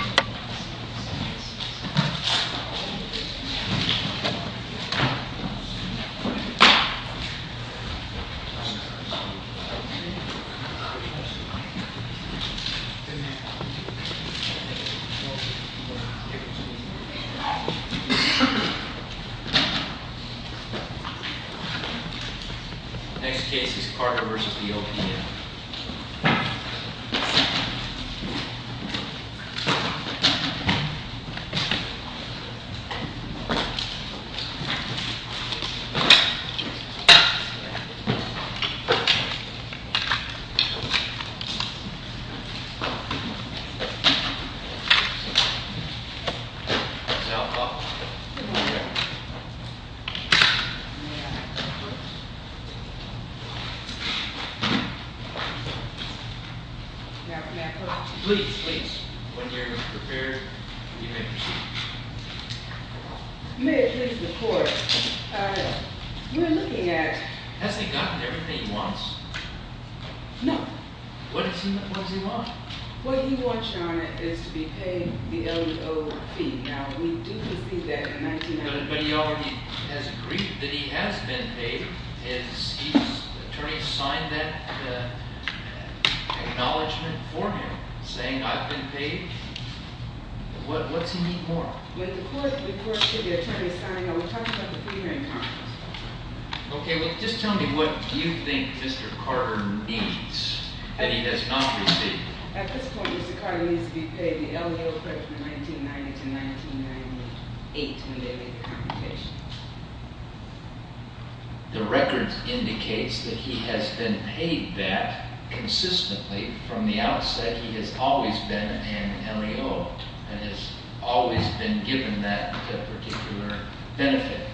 Next case is Carter v. OPM Carter v. OPM May it please the court, you are looking at, has he gotten everything he wants? No. What does he want? What he wants, your honor, is to be paid the LDO fee. Now we do receive that in 1990. But he already has agreed that he has been paid. His attorney signed that acknowledgement for him, saying I've been paid. What's he need more? When the court, the court said the attorney signed, I was talking about the pre-hearing comments. Okay, well just tell me what you think Mr. Carter needs that he has not received. At this point Mr. Carter needs to be paid the LDO from 1990 to 1998 when they make the compensation. The record indicates that he has been paid that consistently from the outset. He has always been an LDO and has always been given that particular benefit.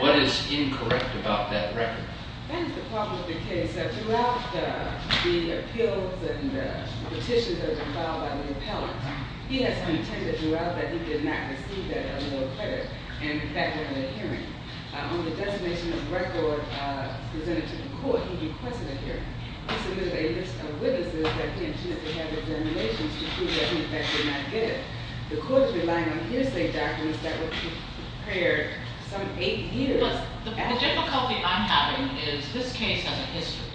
What is incorrect about that record? That is the problem with the case. Throughout the appeals and the petitions that have been filed by the appellants, he has contended throughout that he did not receive that LDO credit. In fact, during the hearing, on the designation of the record presented to the court, he requested a hearing. He submitted a list of witnesses that he intended to have with the regulations to prove that he in fact did not get it. The court's relying on hearsay documents that were prepared some eight years after- The difficulty I'm having is this case has a history.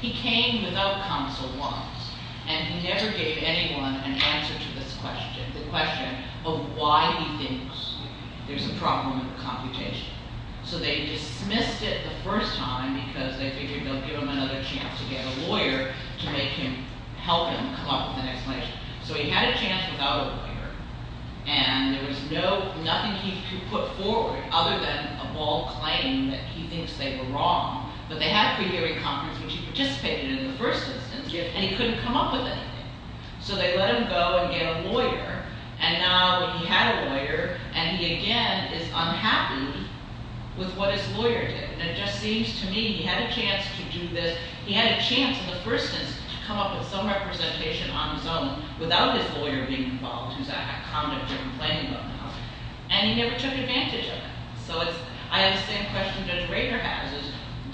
He came without counsel once and he never gave anyone an answer to this question. The question of why he thinks there's a problem with the computation. So they dismissed it the first time because they figured they'll give him another chance to get a lawyer to make him, help him come up with an explanation. So he had a chance without a lawyer and there was nothing he could put forward other than a bald claim that he thinks they were wrong. But they had a pre-hearing conference which he participated in in the first instance and he couldn't come up with anything. So they let him go and get a lawyer and now he had a lawyer and he again is unhappy with what his lawyer did. And it just seems to me he had a chance to do this. He had a chance in the first instance to come up with some representation on his own without his lawyer being involved. Who's a conduct you're complaining about now. And he never took advantage of it. So it's, I understand the question Judge Rader has is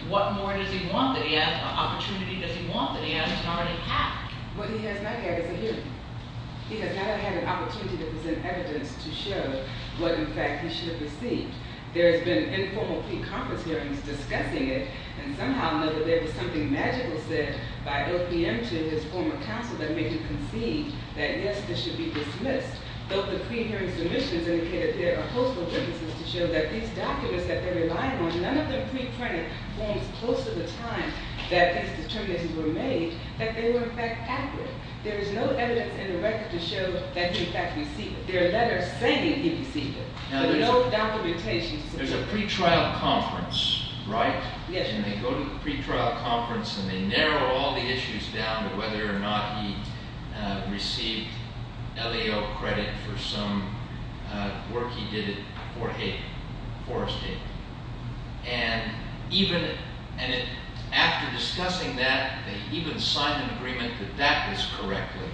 what more does he want that he has, what opportunity does he want that he hasn't already had? What he has not had is a hearing. He has not had an opportunity to present evidence to show what in fact he should have received. There has been informal pre-conference hearings discussing it and somehow there was something magical said by OPM to his former counsel that made him concede that yes this should be dismissed. Though the pre-hearing submissions indicated there are host of witnesses to show that these documents that they're relying on, none of them pre-printed, forms close to the time that these determinations were made, that they were in fact accurate. There is no evidence in the record to show that he in fact received it. There are letters saying he received it. There's a pre-trial conference, right? Yes. And they go to the pre-trial conference and they narrow all the issues down to whether or not he received LAO credit for some work he did at Fort Hayden, Forest Hayden. And even after discussing that, they even sign an agreement that that is correctly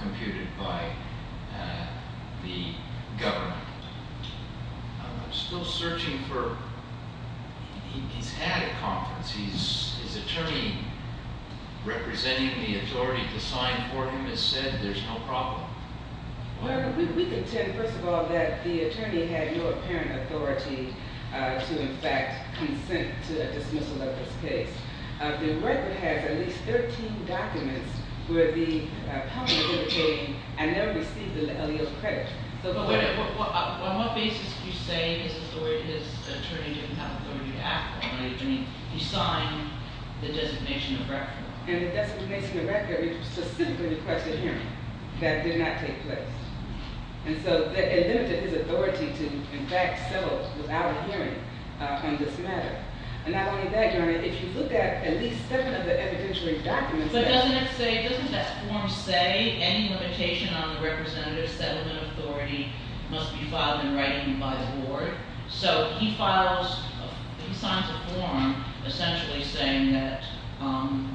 computed by the government. I'm still searching for, he's had a conference, his attorney representing the authority to sign for him has said there's no problem. We can tell, first of all, that the attorney had no apparent authority to in fact consent to a dismissal of this case. The record has at least 13 documents where the public is indicating I never received the LAO credit. On what basis do you say his attorney didn't have authority to act on it? I mean, he signed the designation of record. And the designation of record specifically requested hearing. That did not take place. And so it limited his authority to in fact settle without a hearing on this matter. And not only that, Your Honor, if you look at at least seven of the evidentiary documents. But doesn't it say, doesn't that form say any limitation on the representative settlement authority must be filed in writing by the board? So he files, he signs a form essentially saying that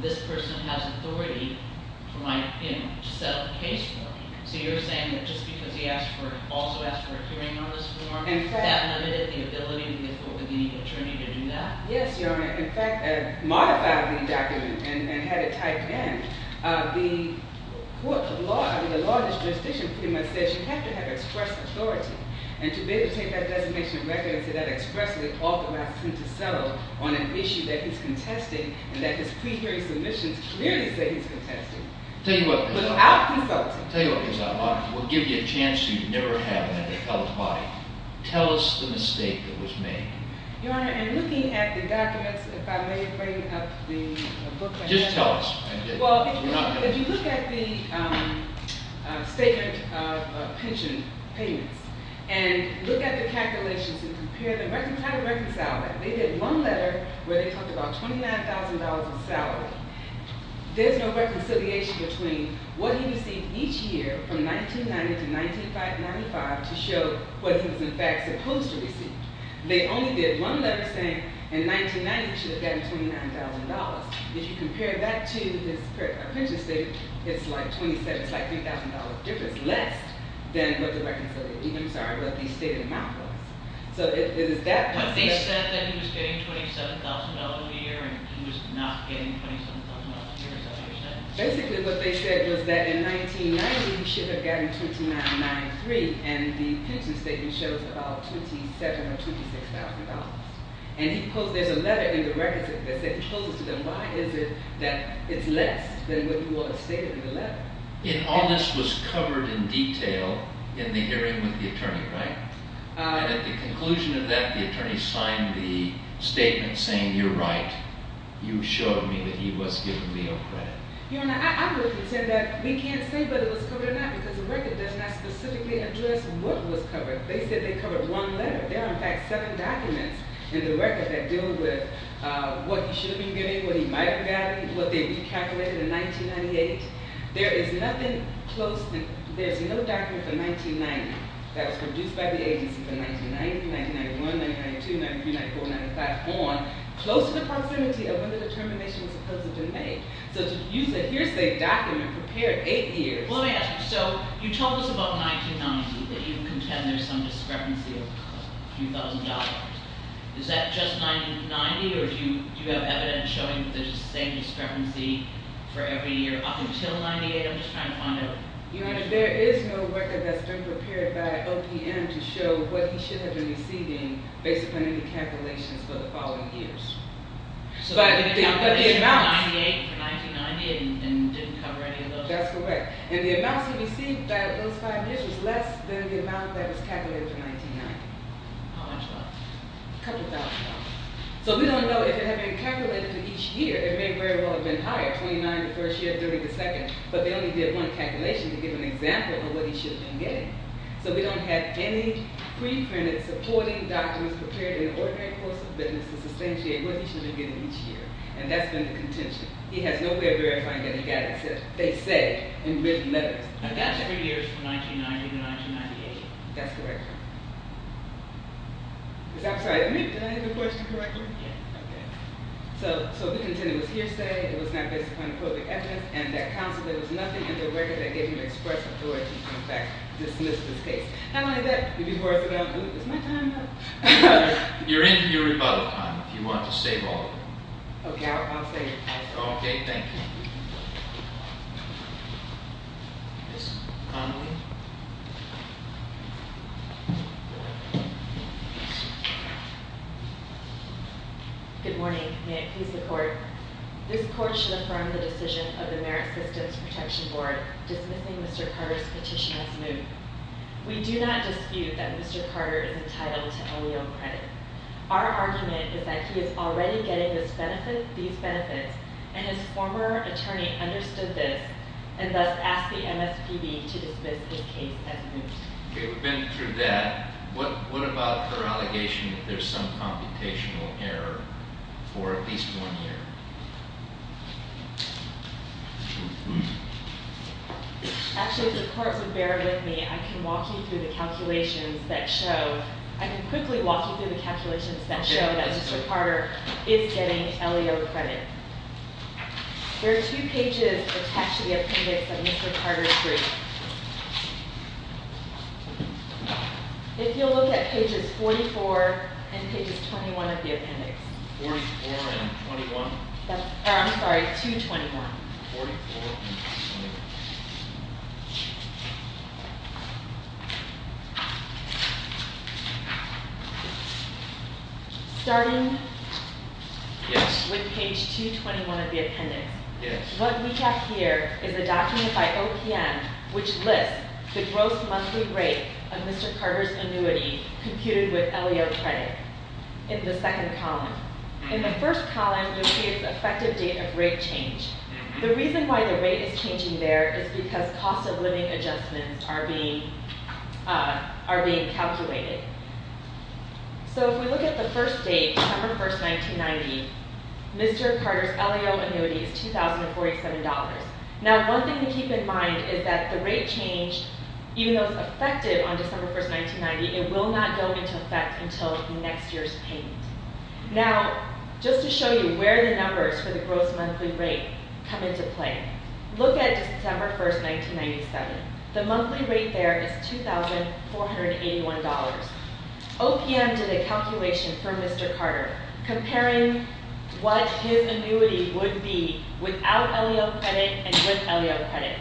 this person has authority to settle the case for him. So you're saying that just because he also asked for a hearing on this form, that limited the ability of the attorney to do that? Yes, Your Honor. In fact, I modified the document and had it typed in. The court, the law, I mean the law in this jurisdiction pretty much says you have to have express authority. And to be able to take that designation of record and say that expressly authorizes him to settle on an issue that he's contested. And that his pre-hearing submissions clearly say he's contested. Tell you what, Your Honor. Without consulting. Tell you what, Your Honor. I will give you a chance you'd never have in another felon's body. Tell us the mistake that was made. Your Honor, in looking at the documents, if I may bring up the book right now. Just tell us. Well, if you look at the statement of pension payments and look at the calculations and compare them. Try to reconcile that. They did one letter where they talked about $29,000 in salary. There's no reconciliation between what he received each year from 1990 to 1995 to show what he was in fact supposed to receive. They only did one letter saying in 1990 he should have gotten $29,000. If you compare that to his pension statement, it's like $27,000. It's like $3,000 difference less than what the reconciliation, I'm sorry, what the stated amount was. So it is that. But they said that he was getting $27,000 a year and he was not getting $27,000 a year. Is that what they said? Basically what they said was that in 1990 he should have gotten $29,993. And the pension statement shows about $27,000 or $26,000. And he posed, there's a letter in the records that says, he poses to them, why is it that it's less than what was stated in the letter? And all this was covered in detail in the hearing with the attorney, right? And at the conclusion of that, the attorney signed the statement saying, you're right. You showed me that he was giving me no credit. Your Honor, I would pretend that we can't say whether it was covered or not because the record does not specifically address what was covered. They said they covered one letter. There are, in fact, seven documents in the record that deal with what he should have been giving, what he might have gotten, what they recalculated in 1998. There is nothing close, there's no document from 1990 that was produced by the agency from 1990, 1991, 1992, 1993, 1994, 1995 on, close to the proximity of when the determination was supposed to have been made. So to use a hearsay document prepared eight years- Well, let me ask you, so you told us about 1990, that you contend there's some discrepancy of $3,000. Is that just 1990, or do you have evidence showing that there's the same discrepancy for every year up until 1998? I'm just trying to find out. Your Honor, there is no record that's been prepared by OPM to show what he should have been receiving based on any calculations for the following years. But the amounts- So the calculations for 1998 and 1990 didn't cover any of those? That's correct. And the amounts he received those five years was less than the amount that was calculated for 1990. How much was? A couple thousand dollars. So we don't know if it had been calculated for each year. It may very well have been higher, 29 the first year, 30 the second, but they only did one calculation to give an example of what he should have been getting. So we don't have any pre-printed supporting documents prepared in an ordinary course of business to substantiate what he should have been getting each year. And that's been the contention. He has no way of verifying that he got it. That's what they say in written letters. And that's three years from 1990 to 1998? That's correct. I'm sorry, did I answer the question correctly? Yes. Okay. So the contention was hearsay, it was not based upon appropriate evidence, and that counsel, there was nothing in the record that gave him the express authority to, in fact, dismiss this case. How long is that? Is my time up? You're in for your rebuttal time if you want to stay longer. Okay, I'll stay. Okay, thank you. Ms. Connelly? Good morning. May it please the court. This court should affirm the decision of the Merit Systems Protection Board dismissing Mr. Carter's petition as moot. We do not dispute that Mr. Carter is entitled to only own credit. Our argument is that he is already getting these benefits, and his former attorney understood this, and thus asked the MSPB to dismiss his case as moot. Okay, we've been through that. What about their allegation that there's some computational error for at least one year? Actually, if the court would bear with me, I can walk you through the calculations that show, I can quickly walk you through the calculations that show that Mr. Carter is getting LEO credit. There are two pages attached to the appendix of Mr. Carter's brief. If you'll look at pages 44 and pages 21 of the appendix. 44 and 21? I'm sorry, 221. 44 and 21. Starting with page 221 of the appendix. Yes. What we have here is a document by OPM which lists the gross monthly rate of Mr. Carter's annuity computed with LEO credit in the second column. In the first column, you'll see its effective date of rate change. The reason why the rate is changing there is because cost of living adjustments are being calculated. If we look at the first date, December 1st, 1990, Mr. Carter's LEO annuity is $2,047. Now, one thing to keep in mind is that the rate change, even though it's effective on December 1st, 1990, it will not go into effect until next year's payment. Now, just to show you where the numbers for the gross monthly rate come into play, look at December 1st, 1997. The monthly rate there is $2,481. OPM did a calculation for Mr. Carter comparing what his annuity would be without LEO credit and with LEO credit.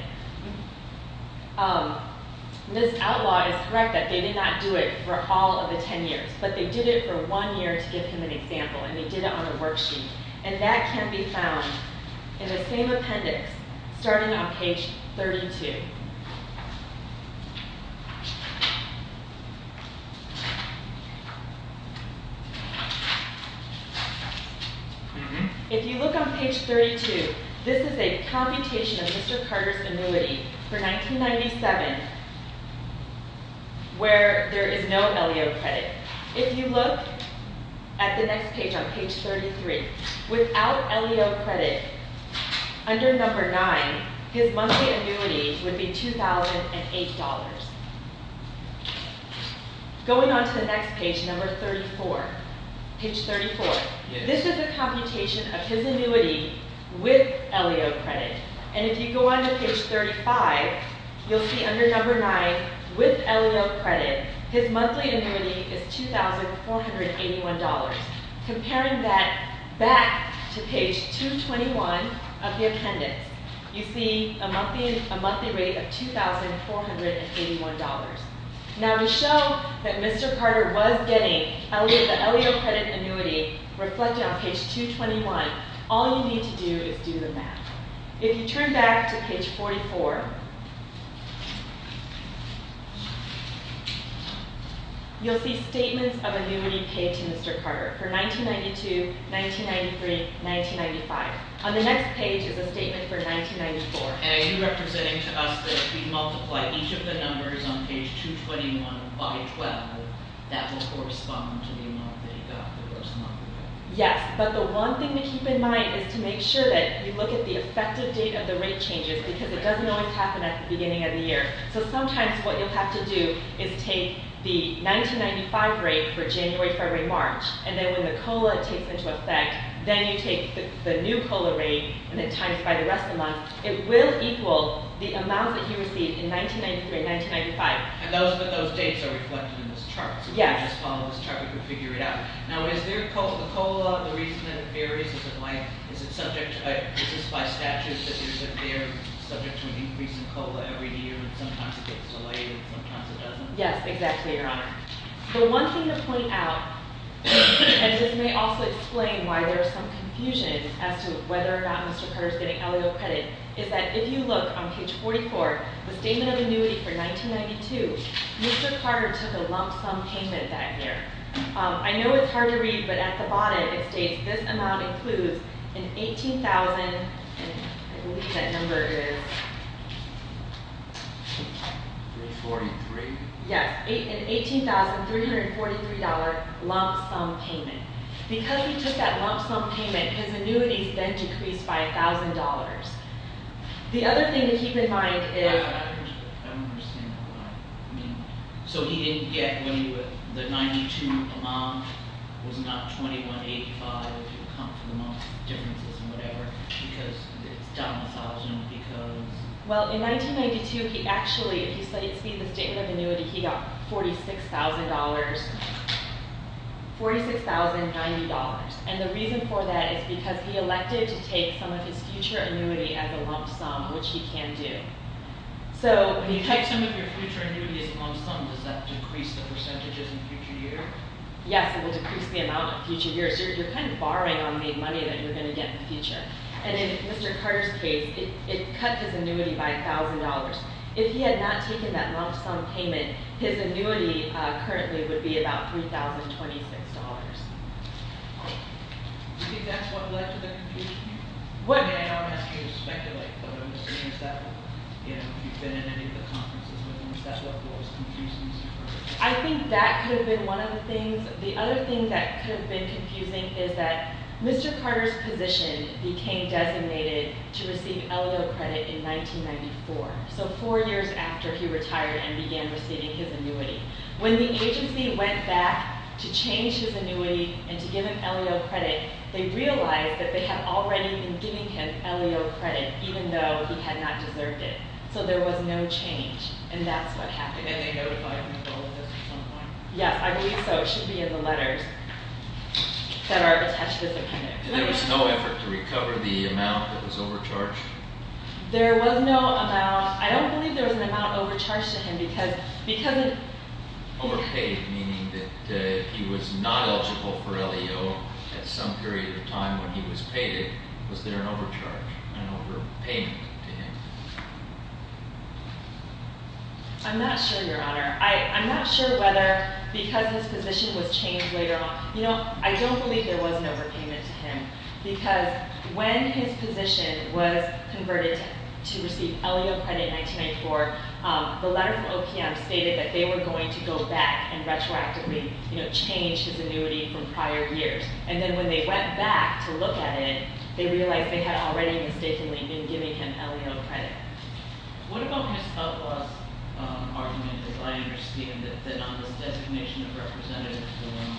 Ms. Outlaw is correct that they did not do it for all of the 10 years, but they did it for one year to give him an example, and they did it on a worksheet. And that can be found in the same appendix, starting on page 32. If you look on page 32, this is a computation of Mr. Carter's annuity for 1997, where there is no LEO credit. If you look at the next page, on page 33, without LEO credit, under number 9, his monthly annuity would be $2,008. Going on to the next page, number 34, page 34, this is a computation of his annuity with LEO credit. And if you go on to page 35, you'll see under number 9, with LEO credit, his monthly annuity is $2,481. Comparing that back to page 221 of the appendix, you see a monthly rate of $2,481. Now, to show that Mr. Carter was getting the LEO credit annuity reflected on page 221, all you need to do is do the math. If you turn back to page 44, you'll see statements of annuity paid to Mr. Carter for 1992, 1993, 1995. On the next page is a statement for 1994. Are you representing to us that if we multiply each of the numbers on page 221 by 12, that will correspond to the amount that he got for the rest of the month? Yes, but the one thing to keep in mind is to make sure that you look at the effective date of the rate changes, because it doesn't always happen at the beginning of the year. So sometimes what you'll have to do is take the 1995 rate for January, February, March, and then when the COLA takes into effect, then you take the new COLA rate and then times it by the rest of the month. It will equal the amount that he received in 1993 and 1995. And those dates are reflected in this chart. Yes. So if you just follow this chart, we can figure it out. Now, is there a COLA, the reason that it varies, is it like, is it subject, is this by statute that they're subject to an increase in COLA every year and sometimes it gets delayed and sometimes it doesn't? Yes, exactly, Your Honor. The one thing to point out, and this may also explain why there is some confusion as to whether or not Mr. Carter is getting LAO credit, is that if you look on page 44, the statement of annuity for 1992, Mr. Carter took a lump sum payment that year. I know it's hard to read, but at the bonnet it states this amount includes an 18,000, and I believe that number is? 343. Yes, an $18,343 lump sum payment. Because he took that lump sum payment, his annuities then decreased by $1,000. The other thing to keep in mind is? I don't understand that line. So he didn't get when the 92 amount was not 21.85 if you account for the month differences and whatever, because it's down 1,000 because? Well, in 1992 he actually, if you see the statement of annuity, he got $46,090. And the reason for that is because he elected to take some of his future annuity as a lump sum, which he can do. When you take some of your future annuity as a lump sum, does that decrease the percentages in the future year? Yes, it will decrease the amount in the future year. So you're kind of borrowing on the money that you're going to get in the future. And in Mr. Carter's case, it cut his annuity by $1,000. If he had not taken that lump sum payment, his annuity currently would be about $3,026. Do you think that's what led to the confusion here? What? I mean, I'm not asking you to speculate, but I'm just saying is that what, you know, if you've been in any of the conferences with him, is that what was confusing Mr. Carter? I think that could have been one of the things. The other thing that could have been confusing is that Mr. Carter's position became designated to receive LEO credit in 1994, so four years after he retired and began receiving his annuity. When the agency went back to change his annuity and to give him LEO credit, they realized that they had already been giving him LEO credit, even though he had not deserved it. So there was no change, and that's what happened. And they notified him of all of this at some point? Yes, I believe so. It should be in the letters that are attached to this opinion. And there was no effort to recover the amount that was overcharged? There was no amount. I don't believe there was an amount overcharged to him because it— Overpaid, meaning that if he was not eligible for LEO at some period of time when he was paid it, was there an overcharge, an overpayment to him? I'm not sure, Your Honor. I'm not sure whether because his position was changed later on—you know, I don't believe there was an overpayment to him because when his position was converted to receive LEO credit in 1994, the letter from OPM stated that they were going to go back and retroactively change his annuity from prior years. And then when they went back to look at it, they realized they had already mistakenly been giving him LEO credit. What about his helpless argument, as I understand it, that on this designation of representative form,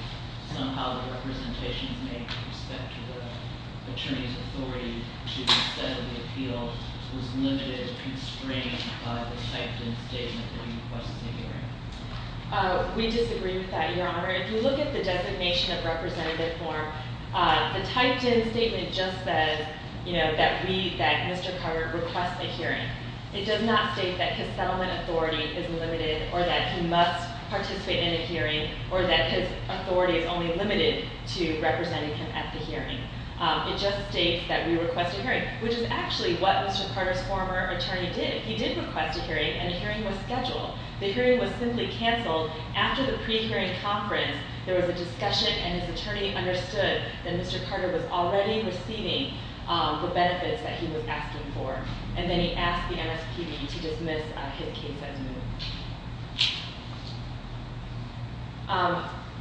somehow the representations made with respect to the attorney's authority to settle the appeal was limited and constrained by the typed-in statement that he requests a hearing? We disagree with that, Your Honor. If you look at the designation of representative form, the typed-in statement just says, you know, that we—that Mr. Carter requests a hearing. It does not state that his settlement authority is limited or that he must participate in a hearing or that his authority is only limited to representing him at the hearing. It just states that we request a hearing, which is actually what Mr. Carter's former attorney did. He did request a hearing, and the hearing was scheduled. The hearing was simply canceled after the pre-hearing conference. There was a discussion, and his attorney understood that Mr. Carter was already receiving the benefits that he was asking for. And then he asked the MSPB to dismiss his case as moved.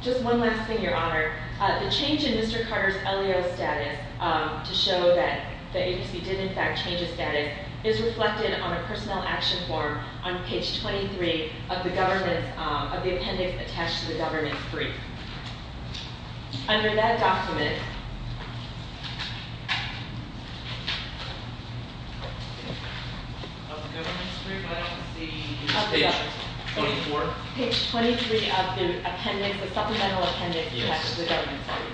Just one last thing, Your Honor. The change in Mr. Carter's LEO status to show that the agency did, in fact, change his status is reflected on a personnel action form on page 23 of the appendix attached to the government's brief. Under that document— Of the government's brief, I don't see page 24. Page 23 of the appendix, the supplemental appendix attached to the government's brief.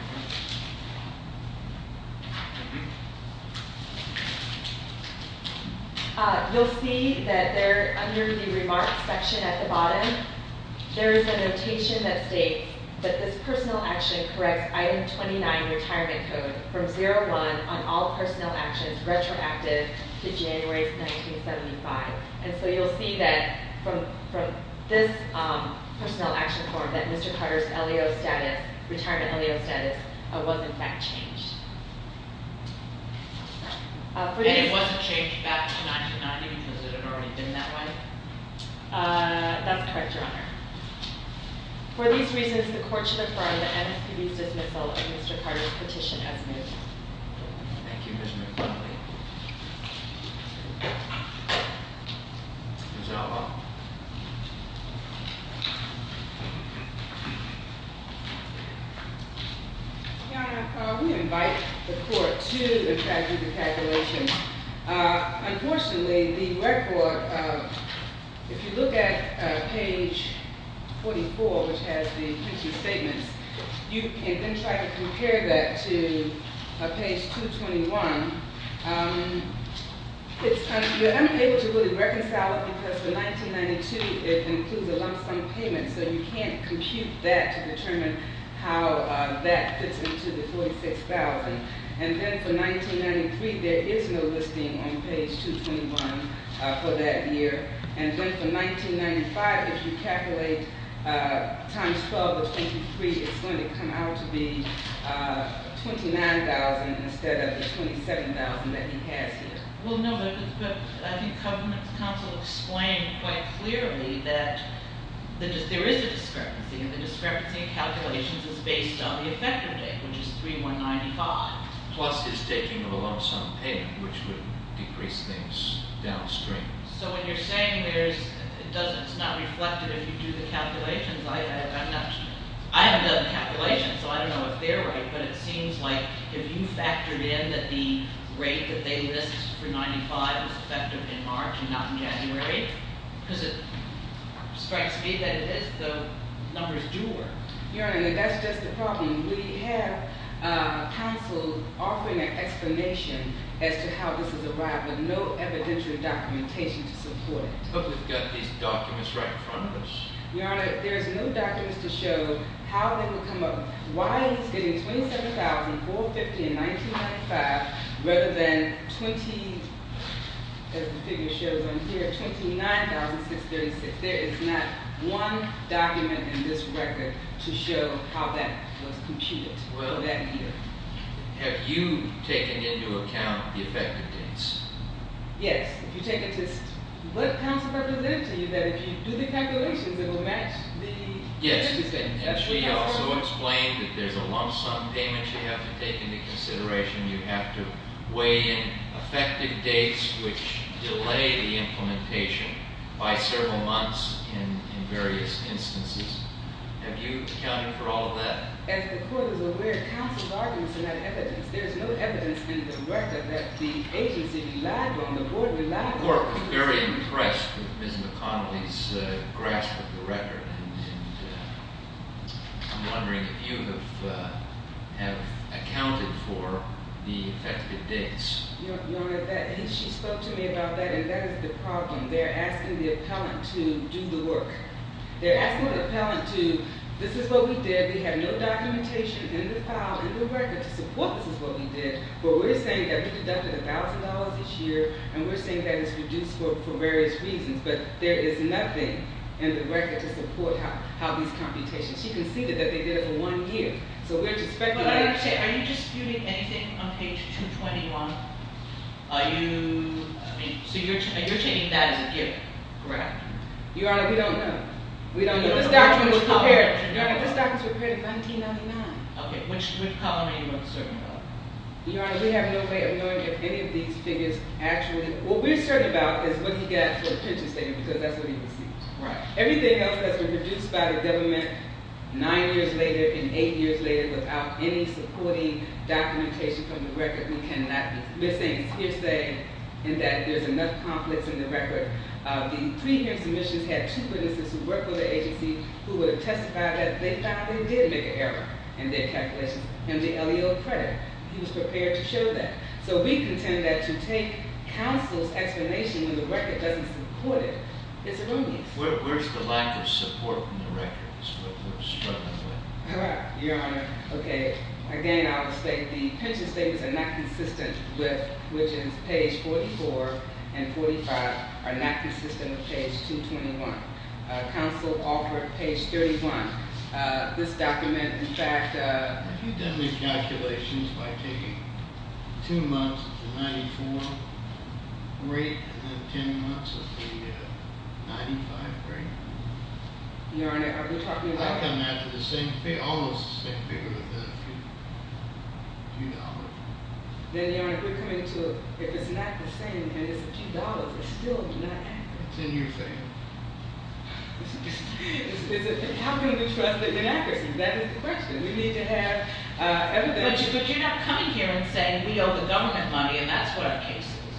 You'll see that there, under the remarks section at the bottom, there is a notation that states that this personnel action corrects Item 29, Retirement Code, from 0-1 on all personnel actions retroactive to January 1975. And so you'll see that from this personnel action form that Mr. Carter's retirement LEO status was, in fact, changed. And it wasn't changed back to 1990 because it had already been that way? That's correct, Your Honor. For these reasons, the court should affirm the MSPB's dismissal of Mr. Carter's petition as moved. Thank you, Ms. McFarland. Ms. Alba. Your Honor, we invite the court to the statute of calculations. Because for 1992, it includes a lump sum payment, so you can't compute that to determine how that fits into the $46,000. And then for 1993, there is no listing on page 221 for that year. And then for 1995, if you calculate times 12 of 23, it's going to come out to be $29,000 instead of the $27,000 that he has here. Well, no, but I think government counsel explained quite clearly that there is a discrepancy, and the discrepancy in calculations is based on the effective date, which is 3-1-95. Plus his taking of a lump sum payment, which would decrease things downstream. So when you're saying it's not reflected if you do the calculations, I haven't done the calculations, so I don't know if they're right. But it seems like if you factored in that the rate that they list for 95 was effective in March and not in January, because it strikes me that it is, the numbers do work. Your Honor, that's just the problem. We have counsel offering an explanation as to how this has arrived, but no evidential documentation to support it. But we've got these documents right in front of us. Your Honor, there's no documents to show how they will come up. While he's getting $27,450 in 1995, rather than 20, as the figure shows on here, $29,636. There is not one document in this record to show how that was computed that year. Well, have you taken into account the effective dates? Yes. If you take it just what counsel representative to you that if you do the calculations, it will match the 50%. And she also explained that there's a lump sum payment you have to take into consideration. You have to weigh in effective dates which delay the implementation by several months in various instances. Have you accounted for all of that? As the court is aware, counsel's arguments are not evidence. There's no evidence in the record that the agency relied on, the board relied on. The court was very impressed with Ms. McConnelly's grasp of the record. And I'm wondering if you have accounted for the effective dates. Your Honor, she spoke to me about that, and that is the problem. They're asking the appellant to do the work. They're asking the appellant to, this is what we did. We have no documentation in the file, in the record to support this is what we did. But we're saying that we deducted $1,000 each year, and we're saying that it's reduced for various reasons. But there is nothing in the record to support how these computations. She conceded that they did it for one year. So we're just speculating. Are you disputing anything on page 221? Are you, I mean, so you're taking that as a gift? Correct. Your Honor, we don't know. We don't know. This document was prepared. Your Honor, this document was prepared in 1999. Okay. Your Honor, we have no way of knowing if any of these figures actually, what we're certain about is what he got for the pension statement, because that's what he received. Right. Everything else has been reduced by the government nine years later and eight years later without any supporting documentation from the record. We cannot be, we're saying it's hearsay, and that there's enough conflicts in the record. The three hearing submissions had two witnesses who worked with the agency who would testify that they found they did make an error in their calculations, and the LEO credit. He was prepared to show that. So we contend that to take counsel's explanation when the record doesn't support it, it's erroneous. Where's the lack of support from the record? That's what we're struggling with. Your Honor, okay, again, I will state the pension statements are not consistent with, which is page 44 and 45, are not consistent with page 221. Counsel offered page 31. This document, in fact- Have you done these calculations by taking two months of the 94 rate and then ten months of the 95 rate? Your Honor, are you talking about- I come after the same figure, almost the same figure, but then a few dollars. Then, Your Honor, if we're coming to, if it's not the same and it's a few dollars, it's still not accurate. It's a new thing. How can we trust the inaccuracies? That is the question. We need to have evidence- But you're not coming here and saying we owe the government money and that's what our case is.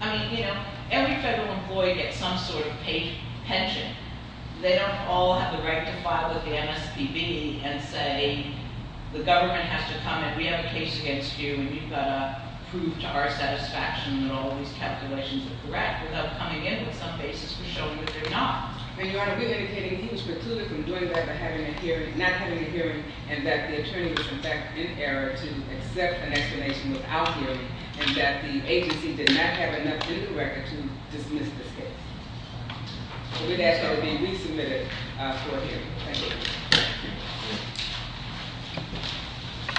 I mean, you know, every federal employee gets some sort of paid pension. They don't all have the right to file with the MSPB and say the government has to come and we have a case against you and you've got to prove to our satisfaction that all of these calculations are correct without coming in with some basis for showing that they're not. And, Your Honor, we're indicating he was precluded from doing that by not having a hearing and that the attorney was, in fact, in error to accept an explanation without hearing and that the agency did not have enough in the record to dismiss this case. So we'd ask that it be resubmitted for hearing. Thank you.